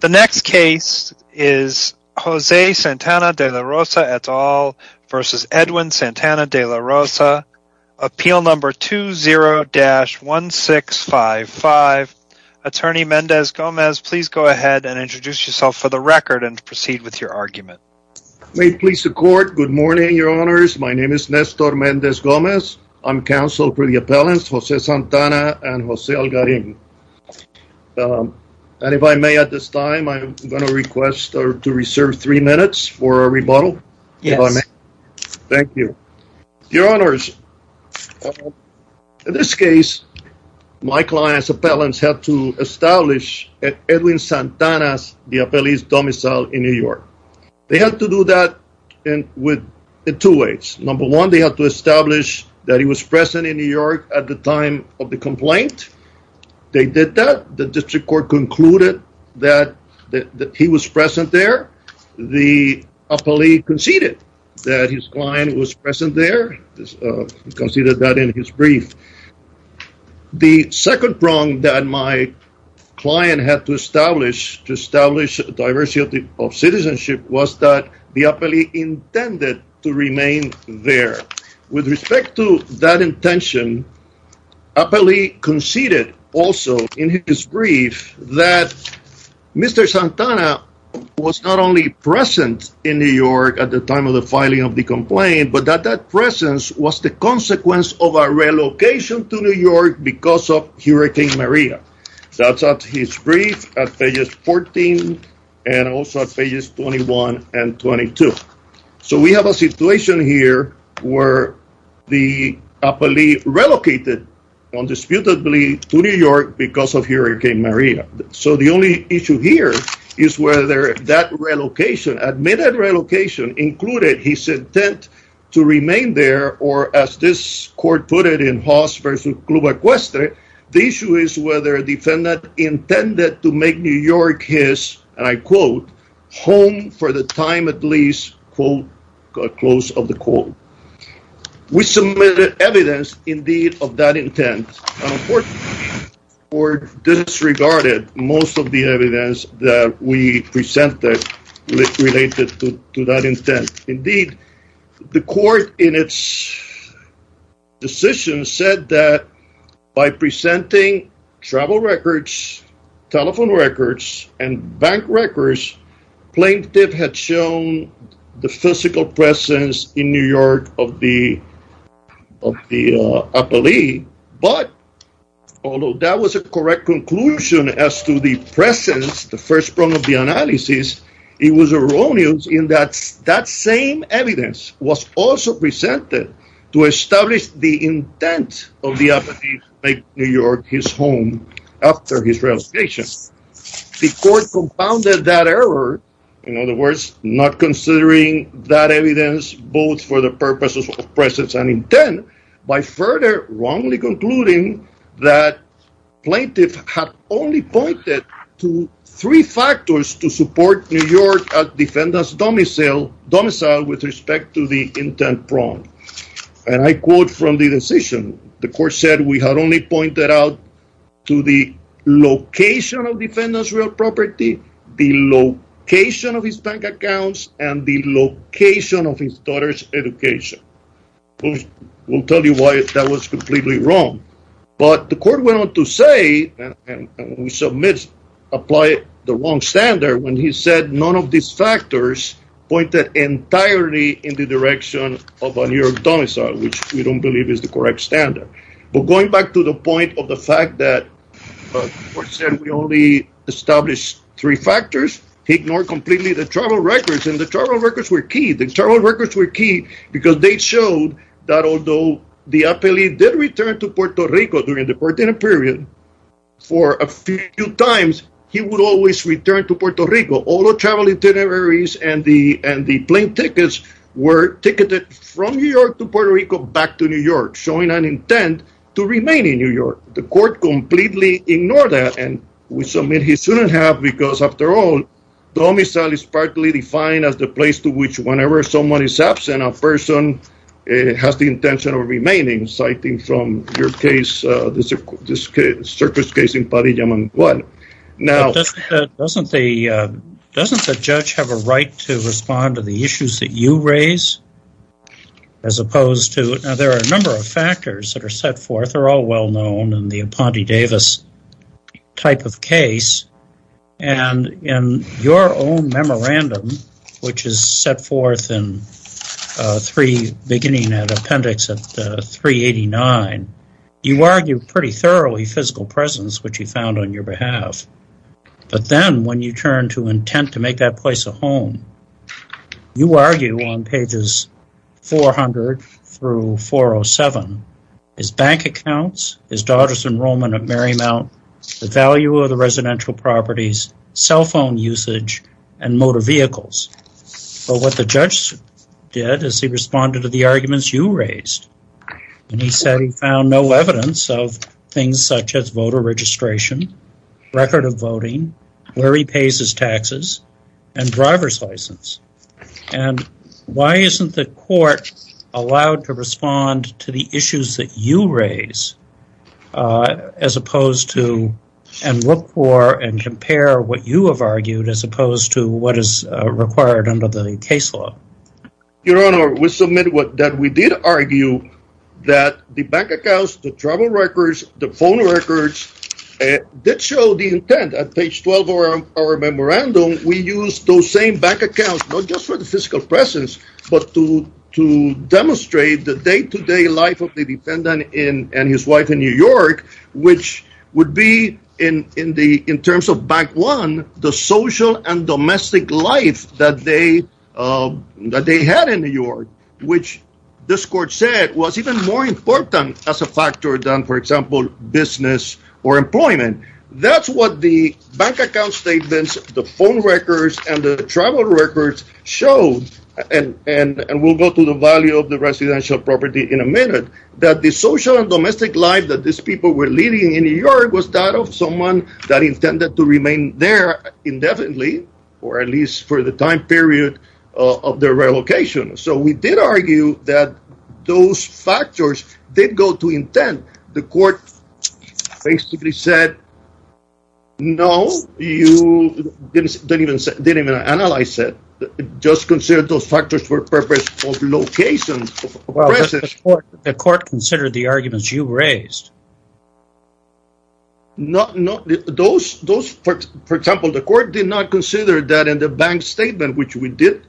The next case is Jose Santana de la Rosa et al versus Edwin Santana de la Rosa. Appeal number 20-1655. Attorney Mendez Gomez, please go ahead and introduce yourself for the record and proceed with your argument. May it please the court. Good morning, your honors. My name is Nestor Mendez Gomez. I'm counsel for the appellants Jose Santana and Jose Algarin. And if I may at this time, I'm going to request to reserve three minutes for a rebuttal. Yes. Thank you, your honors. In this case, my client's appellants have to establish that Edwin Santana is the appellee's domicile in New York. They have to do that with two ways. Number one, they have to establish that he was present in New York at the time of the complaint. They did that. The district court concluded that he was present there. The appellee conceded that his client was present there because he did that in his brief. The second prong that my client had to establish to establish diversity of citizenship was that the appellee intended to remain there. With respect to that intention, appellee conceded also in his brief that Mr. Santana was not only present in New York at the time of the filing of the complaint, but that that presence was the consequence of a relocation to New York because of Hurricane Maria. That's at his brief at pages 14 and also at pages 21 and 22. So we have a situation here where the appellee relocated undisputedly to New York because of Hurricane Maria. So the only issue here is whether that relocation, admitted relocation, included his intent to remain there. Or as this court put it in Haas v. Club Equestre, the issue is whether a defendant intended to make New York his, and I quote, home for the time at least, quote, close of the quote. We submitted evidence indeed of that intent. Unfortunately, the court disregarded most of the evidence that we presented related to that intent. Indeed, the court in its decision said that by presenting travel records, telephone records, and bank records, plaintiff had shown the physical presence in New York of the appellee. But although that was a correct conclusion as to the presence, the first part of the analysis, it was erroneous in that that same evidence was also presented to establish the intent of the appellee to make New York his home after his relocation. The court compounded that error, in other words, not considering that evidence both for the purposes of presence and intent, by further wrongly concluding that plaintiff had only pointed to three factors to support New York as defendant's domicile with respect to the intent prong. And I quote from the decision, the court said we had only pointed out to the location of defendant's real property, the location of his bank accounts, and the location of his daughter's education. We'll tell you why that was completely wrong. But the court went on to say, and we submit, apply the wrong standard when he said none of these factors pointed entirely in the direction of a New York domicile, which we don't believe is the correct standard. But going back to the point of the fact that the court said we only established three factors, he ignored completely the travel records, and the travel records were key. The travel records were key because they showed that although the appellee did return to Puerto Rico during the 14th period, for a few times, he would always return to Puerto Rico. All the travel itineraries and the plane tickets were ticketed from New York to Puerto Rico back to New York, showing an intent to remain in New York. The court completely ignored that, and we submit he shouldn't have, because after all, domicile is partly defined as the place to which whenever someone is absent, a person has the intention of remaining, citing from your case, the circus case in Padilla, Managua. Now, doesn't the judge have a right to respond to the issues that you raise? Now, there are a number of factors that are set forth. They're all well known in the Aponte Davis type of case, and in your own memorandum, which is set forth beginning at appendix 389, you argue pretty thoroughly physical presence, which you found on your behalf. But then, when you turn to intent to make that place a home, you argue on pages 400 through 407, his bank accounts, his daughter's enrollment at Marymount, the value of the residential properties, cell phone usage, and motor vehicles. But what the judge did is he responded to the arguments you raised, and he said he found no evidence of things such as voter registration, record of voting, where he pays his taxes, and driver's license. And why isn't the court allowed to respond to the issues that you raise, as opposed to, and look for and compare what you have argued, as opposed to what is required under the case law? Your Honor, we submit that we did argue that the bank accounts, the travel records, the phone records, did show the intent at page 12 of our memorandum. We used those same bank accounts, not just for the physical presence, but to demonstrate the day-to-day life of the defendant and his wife in New York, which would be, in terms of Bank One, the social and domestic life that they had in New York, which this court said was even more important as a factor than, for example, business or employment. That's what the bank account statements, the phone records, and the travel records showed, and we'll go to the value of the residential property in a minute, that the social and domestic life that these people were living in New York was that of someone that intended to remain there indefinitely, or at least for the time period of their relocation. So we did argue that those factors did go to intent. The court basically said, no, you didn't even analyze it. It just considered those factors for the purpose of location. Well, the court considered the arguments you raised. No, no. Those, for example, the court did not consider that in the bank statement, which we did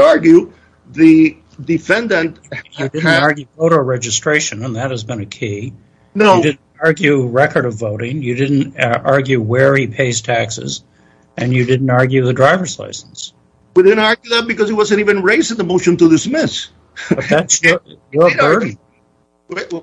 argue, the defendant... You didn't argue voter registration, and that has been a key. No. You didn't argue record of voting. You didn't argue where he pays taxes. And you didn't argue the driver's license. We didn't argue that because it wasn't even raised in the motion to dismiss. That's true.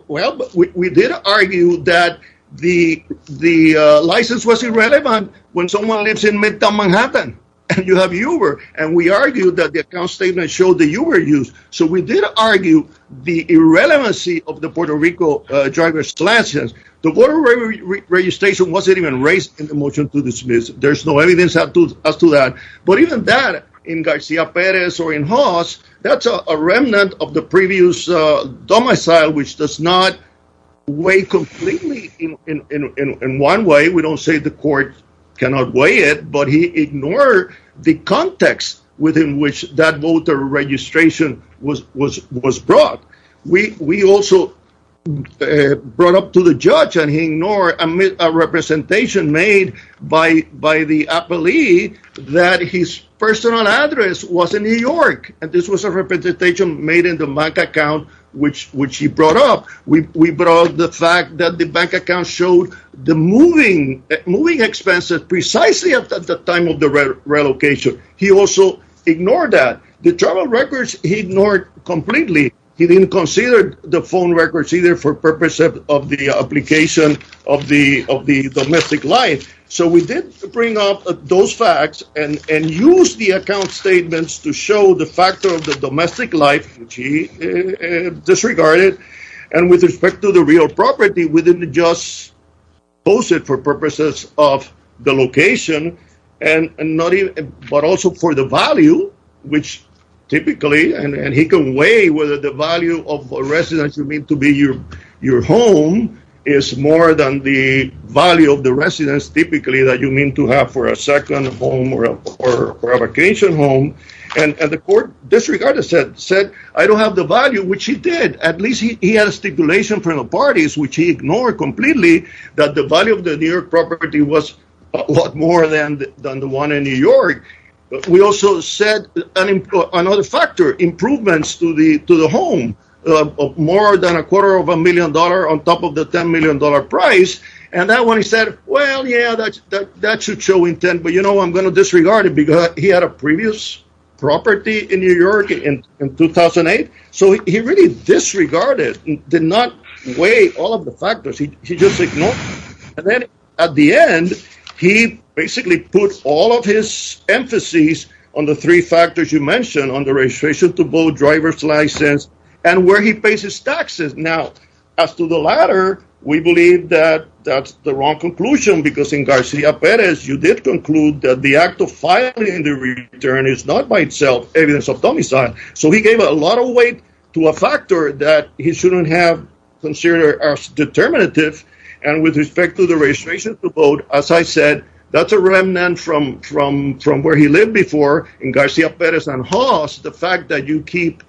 Well, we did argue that the license was irrelevant when someone lives in Midtown, Manhattan, and you have Uber, and we argued that the account statement showed the Uber use. So we did argue the irrelevancy of the Puerto Rico driver's license. The voter registration wasn't even raised in the motion to dismiss. There's no evidence as to that. But even that, in Garcia Perez or in Haas, that's a remnant of the previous domicile, which does not weigh completely in one way. We don't say the court cannot weigh it, but he ignored the context within which that voter registration was brought. We also brought up to the judge, and he ignored a representation made by the appellee that his personal address was in New York, and this was a representation made in the bank account which he brought up. We brought up the fact that the bank account showed the moving expenses precisely at the time of the relocation. He also ignored that. The travel records he ignored completely. He didn't consider the phone records either for purposes of the application of the domestic life. So we did bring up those facts and used the account statements to show the factor of the domestic life, which he disregarded. And with respect to the real property, we didn't just post it for purposes of the location, but also for the value, which typically, and he can weigh whether the value of a residence you mean to be your home is more than the value of the residence typically that you mean to have for a second home or a vacation home. And the court disregarded that, said, I don't have the value, which he did. At least he had a stipulation from the parties, which he ignored completely that the value of the New York property was a lot more than the one in New York. We also said another factor, improvements to the home, more than a quarter of a million dollars on top of the $10 million price. And that one, he said, well, yeah, that should show intent, but, you know, I'm going to disregard it because he had a previous property in New York in 2008. So he really disregarded, did not weigh all of the factors he just ignored. And then at the end, he basically put all of his emphases on the three factors you mentioned on the registration to both driver's license and where he pays his taxes. Now, as to the latter, we believe that that's the wrong conclusion, because in Garcia Perez, you did conclude that the act of filing the return is not by itself evidence of domicile. So he gave a lot of weight to a factor that he shouldn't have considered as determinative. And with respect to the registration to vote, as I said, that's a remnant from from from where he lived before in Garcia Perez and Haas. The fact that you keep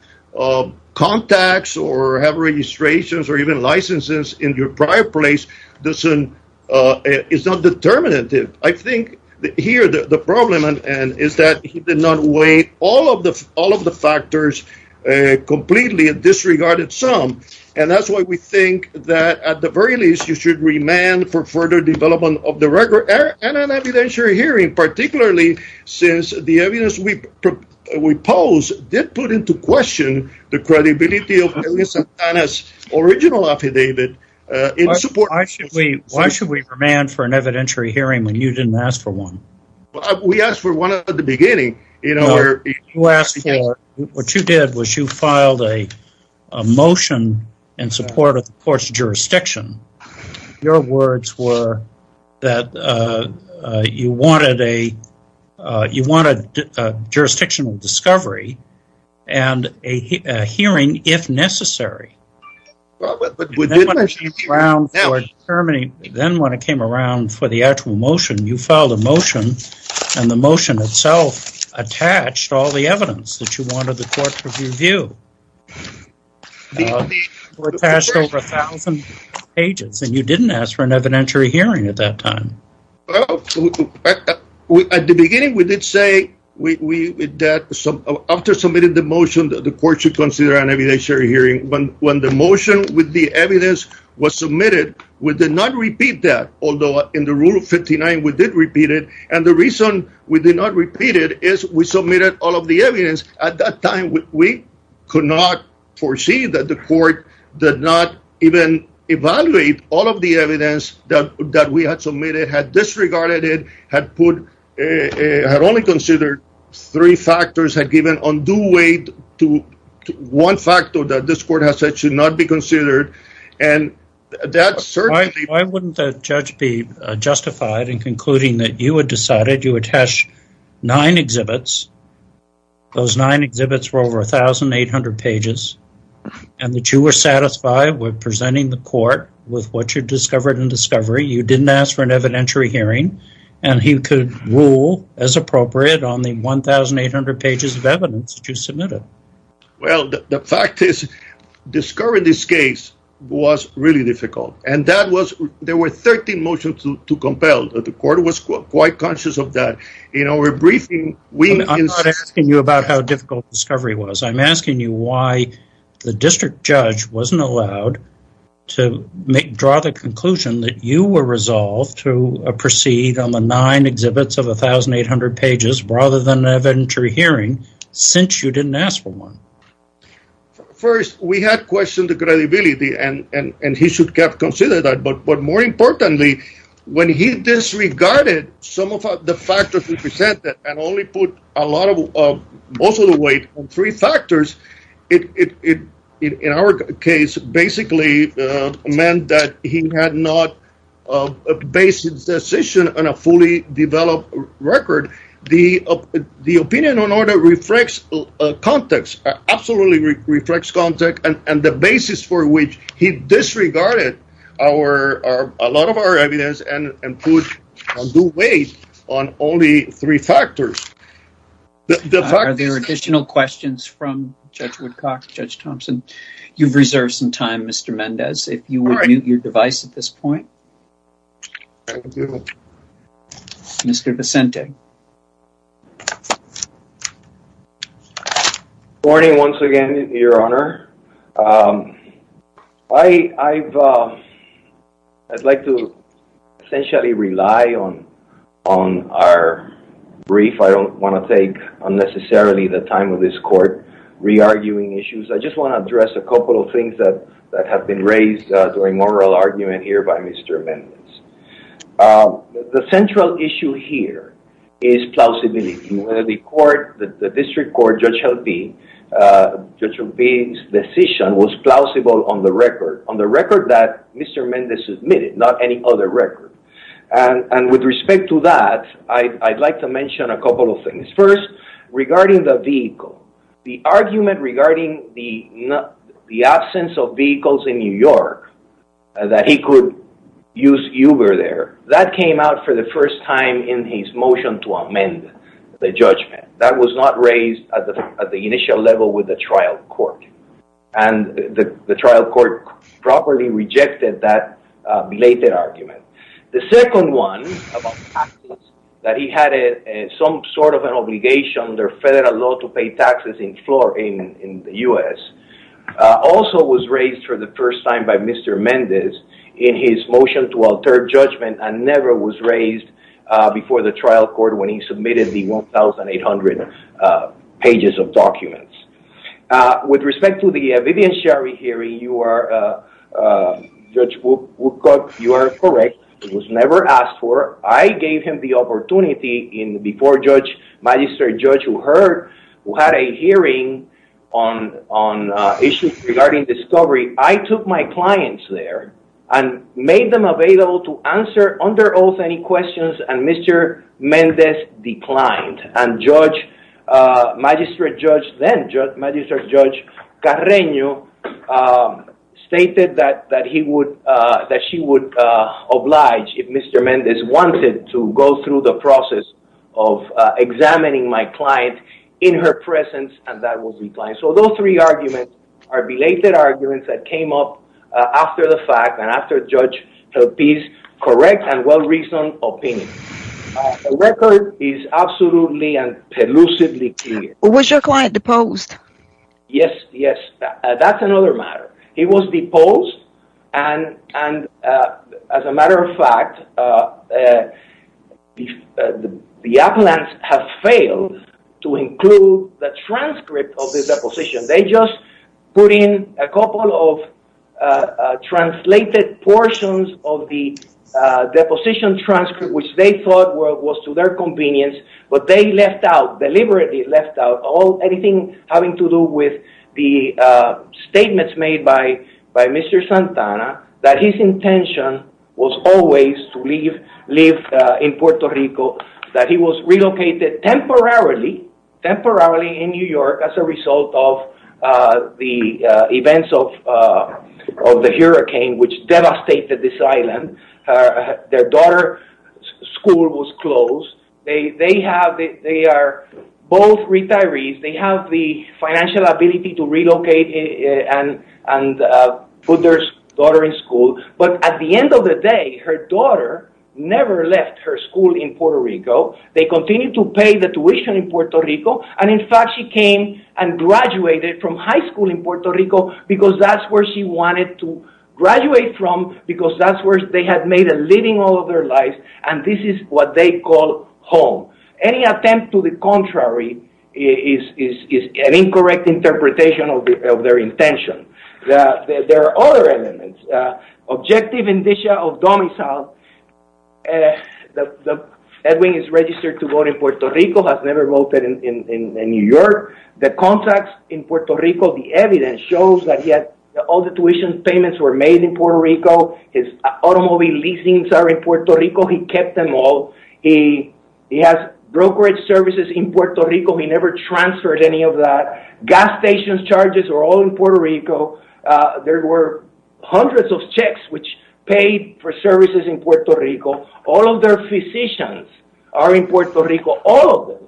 contacts or have registrations or even licenses in your prior place doesn't is not determinative. I think here the problem is that he did not weigh all of the all of the factors completely disregarded some. And that's why we think that at the very least, you should remand for further development of the record and an evidentiary hearing, particularly since the evidence we propose did put into question the credibility of his original affidavit in support. Why should we why should we remand for an evidentiary hearing when you didn't ask for one? We asked for one at the beginning. You know, you asked for what you did was you filed a motion in support of the court's jurisdiction. Your words were that you wanted a you wanted jurisdictional discovery and a hearing if necessary. But then when it came around for the actual motion, you filed a motion and the motion itself attached all the evidence that you wanted the court to review. We passed over a thousand pages and you didn't ask for an evidentiary hearing at that time. At the beginning, we did say that after submitting the motion, the court should consider an evidentiary hearing. But when the motion with the evidence was submitted, we did not repeat that. Although in the rule of 59, we did repeat it. And the reason we did not repeat it is we submitted all of the evidence. At that time, we could not foresee that the court did not even evaluate all of the evidence that we had submitted, had disregarded it, had put a had only considered three factors, had given undue weight to one factor that this court has said should not be considered. Why wouldn't the judge be justified in concluding that you had decided you attach nine exhibits, those nine exhibits were over 1,800 pages, and that you were satisfied with presenting the court with what you discovered in discovery. You didn't ask for an evidentiary hearing, and he could rule as appropriate on the 1,800 pages of evidence that you submitted. Well, the fact is, discovering this case was really difficult. And there were 13 motions to compel. The court was quite conscious of that. I'm not asking you about how difficult discovery was. I'm asking you why the district judge wasn't allowed to draw the conclusion that you were resolved to proceed on the nine exhibits of 1,800 pages rather than evidentiary hearing since you didn't ask for one. First, we had questioned the credibility, and he should have considered that. But more importantly, when he disregarded some of the factors we presented and only put a lot of weight on three factors, it in our case basically meant that he had not based his decision on a fully developed record. The opinion on order reflects context, absolutely reflects context, and the basis for which he disregarded a lot of our evidence and put a good weight on only three factors. Are there additional questions from Judge Woodcock, Judge Thompson? You've reserved some time, Mr. Mendez, if you would mute your device at this point. Thank you. Mr. Vicente. Good morning once again, Your Honor. I'd like to essentially rely on our brief. I don't want to take unnecessarily the time of this court re-arguing issues. I just want to address a couple of things that have been raised during moral argument here by Mr. Mendez. The central issue here is plausibility. The district court, Judge Helping, Judge Helping's decision was plausible on the record, on the record that Mr. Mendez submitted, not any other record. And with respect to that, I'd like to mention a couple of things. First, regarding the vehicle, the argument regarding the absence of vehicles in New York, that he could use Uber there, that came out for the first time in his motion to amend the judgment. That was not raised at the initial level with the trial court. And the trial court properly rejected that belated argument. The second one, that he had some sort of an obligation under federal law to pay taxes in the U.S., also was raised for the first time by Mr. Mendez in his motion to alter judgment and never was raised before the trial court when he submitted the 1,800 pages of documents. With respect to the Vivian Sherry hearing, Judge Woodcock, you are correct. It was never asked for. I gave him the opportunity before Judge, Magistrate Judge who heard, who had a hearing on issues regarding discovery. I took my clients there and made them available to answer under oath any questions, and Mr. Mendez declined. And Judge, Magistrate Judge then, Magistrate Judge Carreño, stated that he would, that she would oblige if Mr. Mendez wanted to go through the process of examining my client in her presence, and that was declined. So, those three arguments are belated arguments that came up after the fact, and after Judge's correct and well-reasoned opinion. The record is absolutely and elusively clear. Was your client deposed? Yes, yes. That's another matter. He was deposed, and as a matter of fact, the appellants have failed to include the transcript of the deposition. They just put in a couple of translated portions of the deposition transcript, which they thought was to their convenience, but they left out, deliberately left out, anything having to do with the statements made by Mr. Santana, that his intention was always to live in Puerto Rico, that he was relocated temporarily, temporarily in New York as a result of the events of the hurricane, which devastated this island. Their daughter's school was closed. They are both retirees. They have the financial ability to relocate and put their daughter in school, but at the end of the day, her daughter never left her school in Puerto Rico. They continued to pay the tuition in Puerto Rico, and in fact, she came and graduated from high school in Puerto Rico, because that's where she wanted to graduate from, because that's where they had made a living all of their lives, and this is what they call home. Any attempt to the contrary is an incorrect interpretation of their intention. There are other elements. Objective indicia of domicile. Edwin is registered to vote in Puerto Rico, has never voted in New York. The contracts in Puerto Rico, the evidence shows that he had all the tuition payments were made in Puerto Rico. His automobile leasings are in Puerto Rico. He kept them all. He has brokerage services in Puerto Rico. He never transferred any of that. Gas station charges are all in Puerto Rico. There were hundreds of checks which paid for services in Puerto Rico. All of their physicians are in Puerto Rico. All of them.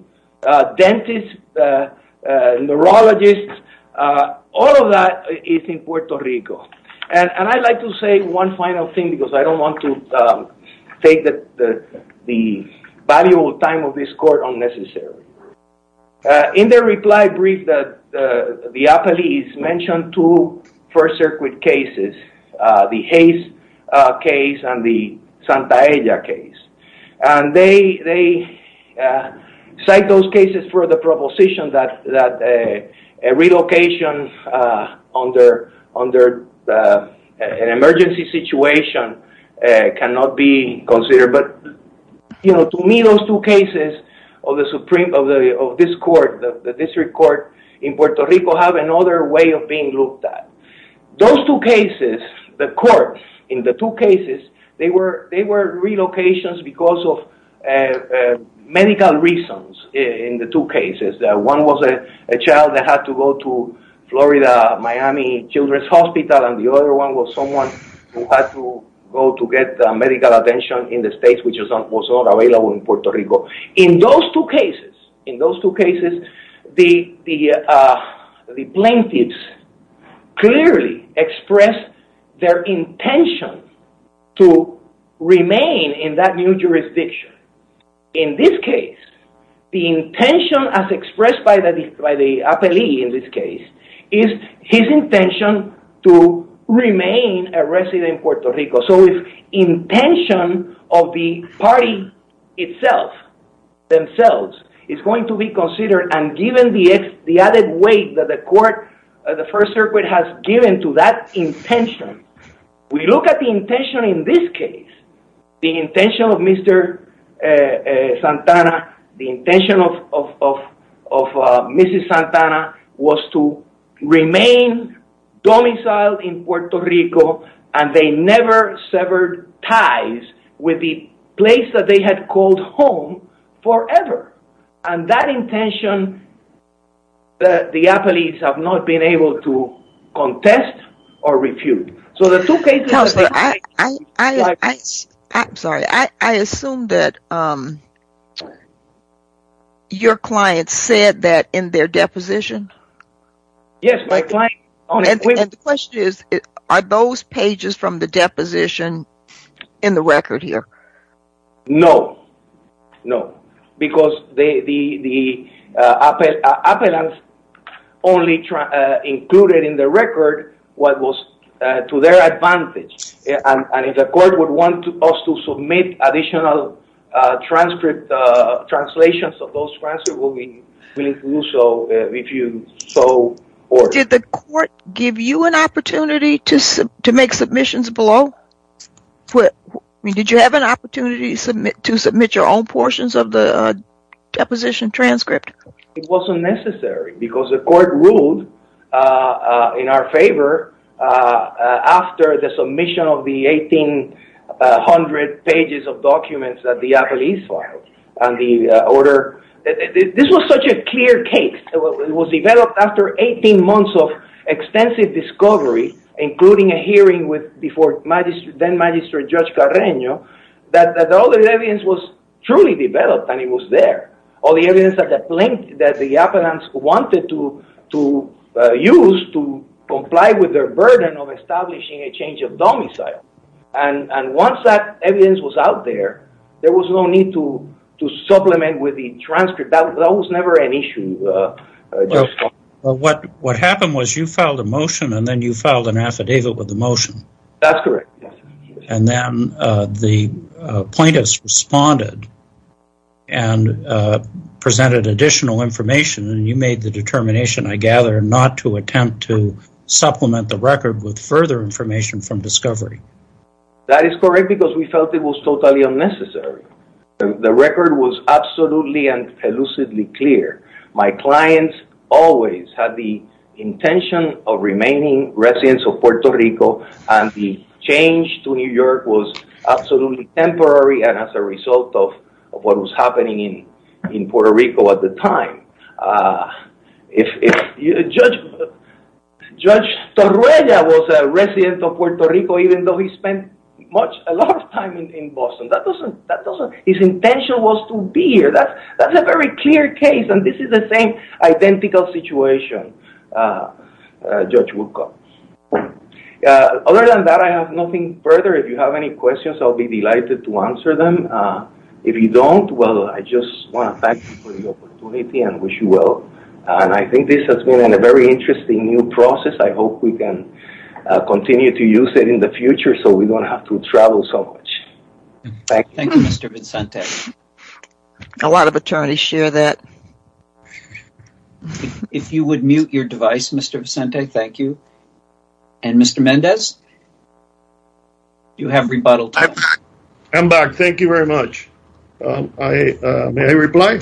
Dentists, neurologists, all of that is in Puerto Rico. And I'd like to say one final thing, because I don't want to take the valuable time of this court unnecessarily. In their reply brief, the police mentioned two First Circuit cases, the Hayes case and the Santa Ella case. And they cite those cases for the proposition that a relocation under an emergency situation cannot be considered. But to me, those two cases of this court, the district court in Puerto Rico, have another way of being looked at. Those two cases, the court, in the two cases, they were relocations because of medical reasons in the two cases. One was a child that had to go to Florida, Miami Children's Hospital, and the other one was someone who had to go to get medical attention in the States, which was not available in Puerto Rico. In those two cases, the plaintiffs clearly expressed their intention to remain in that new jurisdiction. In this case, the intention, as expressed by the appellee in this case, is his intention to remain a resident in Puerto Rico. So if intention of the party itself, themselves, is going to be considered, and given the added weight that the court, the First Circuit, has given to that intention, we look at the intention in this case, the intention of Mr. Santana, the intention of Mrs. Santana, was to remain domiciled in Puerto Rico, and they never severed ties with the place that they had called home forever. And that intention, the appellees have not been able to contest or refute. Counselor, I'm sorry, I assume that your client said that in their deposition? Yes, my client... And the question is, are those pages from the deposition in the record here? No. No. Because the appellants only included in the record what was to their advantage. And if the court would want us to submit additional transcripts, translations of those transcripts, we'll be willing to do so if you so order. Did the court give you an opportunity to make submissions below? Did you have an opportunity to submit your own portions of the deposition transcript? It wasn't necessary, because the court ruled in our favor after the submission of the 1,800 pages of documents that the appellees filed. And the order... This was such a clear case. It was developed after 18 months of extensive discovery, including a hearing with then-Magistrate Judge Carreño, that all the evidence was truly developed, and it was there. All the evidence that the appellants wanted to use to comply with their burden of establishing a change of domicile. And once that evidence was out there, there was no need to supplement with the transcript. That was never an issue. What happened was you filed a motion, and then you filed an affidavit with the motion. That's correct. And then the plaintiffs responded and presented additional information, and you made the determination, I gather, not to attempt to supplement the record with further information from discovery. That is correct, because we felt it was totally unnecessary. The record was absolutely and elusively clear. My clients always had the intention of remaining residents of Puerto Rico, and the change to New York was absolutely temporary and as a result of what was happening in Puerto Rico at the time. Judge Torruella was a resident of Puerto Rico, even though he spent a lot of time in Boston. His intention was to be here. That's a very clear case, and this is the same identical situation Judge Woodcock. Other than that, I have nothing further. If you have any questions, I'll be delighted to answer them. If you don't, well, I just want to thank you for the opportunity and wish you well. I think this has been a very interesting new process. I hope we can continue to use it in the future so we don't have to travel so much. Thank you, Mr. Vicente. A lot of attorneys share that. If you would mute your device, Mr. Vicente, thank you. And Mr. Mendez, you have rebuttal time. I'm back. Thank you very much. May I reply?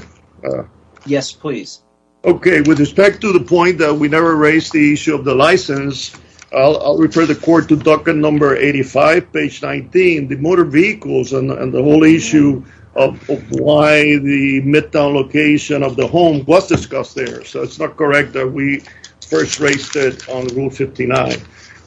Yes, please. Okay. With respect to the point that we never raised the issue of the license, I'll refer the court to docket number 85, page 19, the motor vehicles and the whole issue of why the midtown location of the home was discussed there. So it's not correct that we first raised it on Rule 59.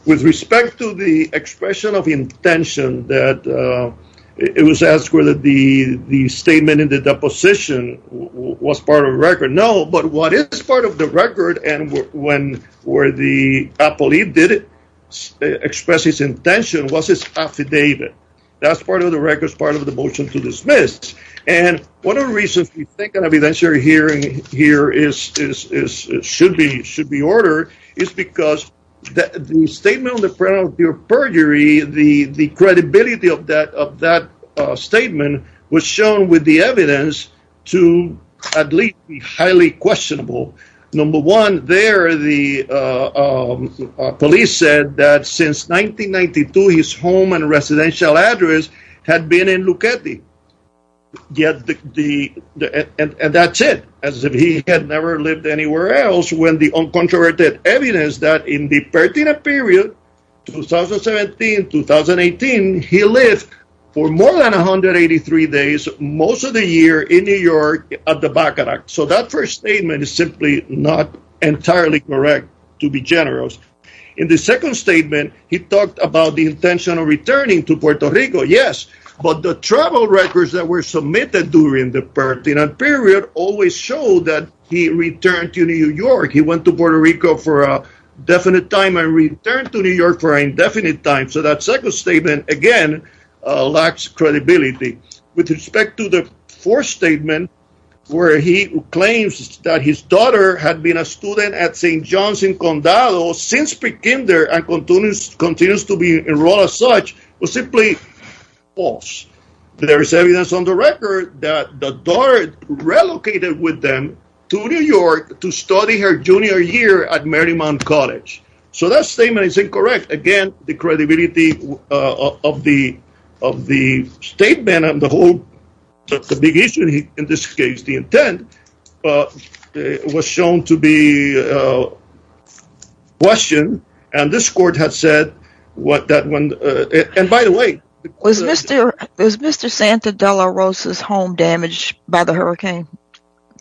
With respect to the expression of intention, it was asked whether the statement in the deposition was part of the record. No, but what is part of the record and where the appellee did express his intention was his affidavit. That's part of the record, part of the motion to dismiss. And one of the reasons we think an evidentiary hearing here should be ordered is because the statement on the penalty of perjury, the credibility of that statement was shown with the evidence to at least be highly questionable. Number one, there, the police said that since 1992, his home and residential address had been in Lucchetti. And that's it. As if he had never lived anywhere else when the uncontroverted evidence that in the Pertina period, 2017, 2018, he lived for more than 183 days most of the year in New York at the Baccarat. So that first statement is simply not entirely correct, to be generous. In the second statement, he talked about the intention of returning to Puerto Rico. Yes, but the travel records that were submitted during the Pertina period always showed that he returned to New York. He went to Puerto Rico for a definite time and returned to New York for an indefinite time. So that second statement, again, lacks credibility. With respect to the fourth statement, where he claims that his daughter had been a student at St. John's in Condado since pre-kinder and continues to be enrolled as such, was simply false. There is evidence on the record that the daughter relocated with them to New York to study her junior year at Marymount College. So that statement is incorrect. Again, the credibility of the statement and the whole, the big issue in this case, the intent was shown to be questioned. And this court has said what that one, and by the way, was Mr. Santa Dela Rosa's home damaged by the hurricane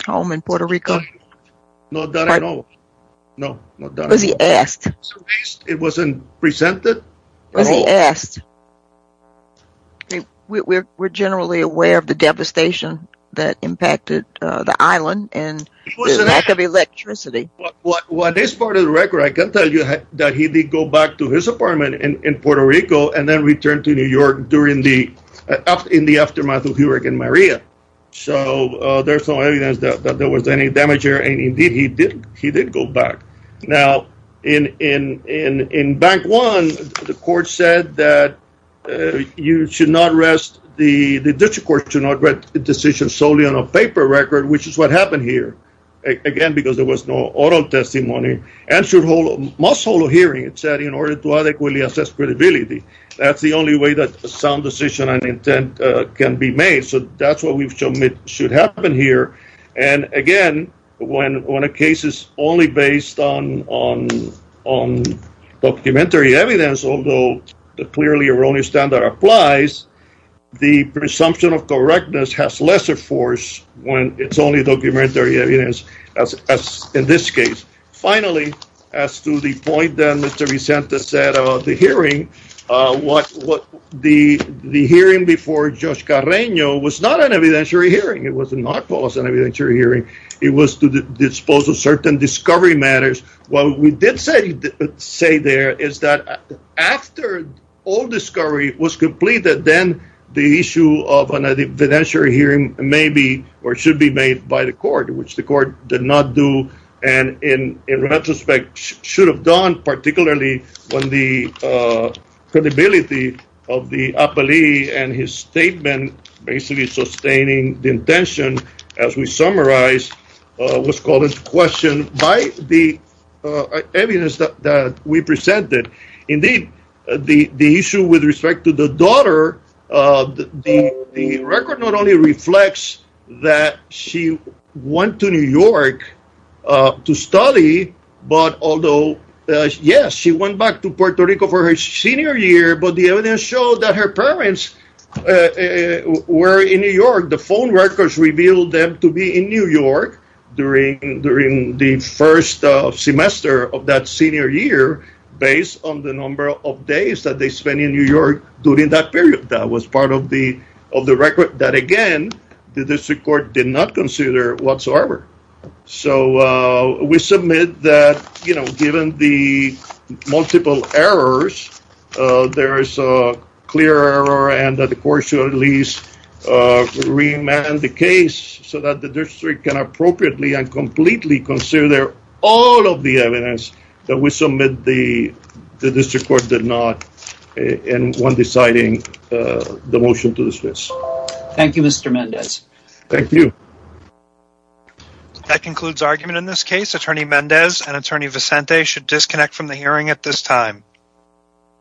home in Puerto Rico? No, not at all. Was he asked? It wasn't presented. Was he asked? We're generally aware of the devastation that impacted the island and the lack of electricity. What is part of the record, I can tell you that he did go back to his apartment in Puerto Rico and then returned to New York during the, in the aftermath of Hurricane Maria. So there's no evidence that there was any damage here. And indeed, he did go back. Now, in, in, in, in Bank One, the court said that you should not rest, the district court should not rest the decision solely on a paper record, which is what happened here. Again, because there was no auto testimony and should hold, must hold a hearing, it said, in order to adequately assess credibility. That's the only way that sound decision and intent can be made. So that's what we've shown it should happen here. And again, when, when a case is only based on, on, on documentary evidence, although the clearly erroneous standard applies, the presumption of correctness has lesser force when it's only documentary evidence. As in this case, finally, as to the point that Mr. Vicente said about the hearing, what, what the, the hearing before Judge Carreño was not an evidentiary hearing. It was not an evidentiary hearing. It was to dispose of certain discovery matters. What we did say, say there is that after all discovery was completed, then the issue of an evidentiary hearing may be, or should be made by the court, which the court did not do. And in retrospect, should have done, particularly when the credibility of the appellee and his statement, basically sustaining the intention, as we summarized, was called into question by the judge. So that's evidence that we presented. Indeed, the issue with respect to the daughter, the record not only reflects that she went to New York to study, but although, yes, she went back to Puerto Rico for her senior year, but the evidence showed that her parents were in New York. The phone records revealed them to be in New York during, during the first semester of that senior year, based on the number of days that they spent in New York during that period. That was part of the, of the record that again, the district court did not consider whatsoever. So we submit that, you know, given the multiple errors, there is a clear error and that the court should at least remand the case so that the district can appropriately and completely consider all of the evidence that we submit the district court did not in one deciding the motion to dismiss. Thank you, Mr. Mendez. Thank you. That concludes argument in this case. Attorney Mendez and attorney Vicente should disconnect from the hearing at this time.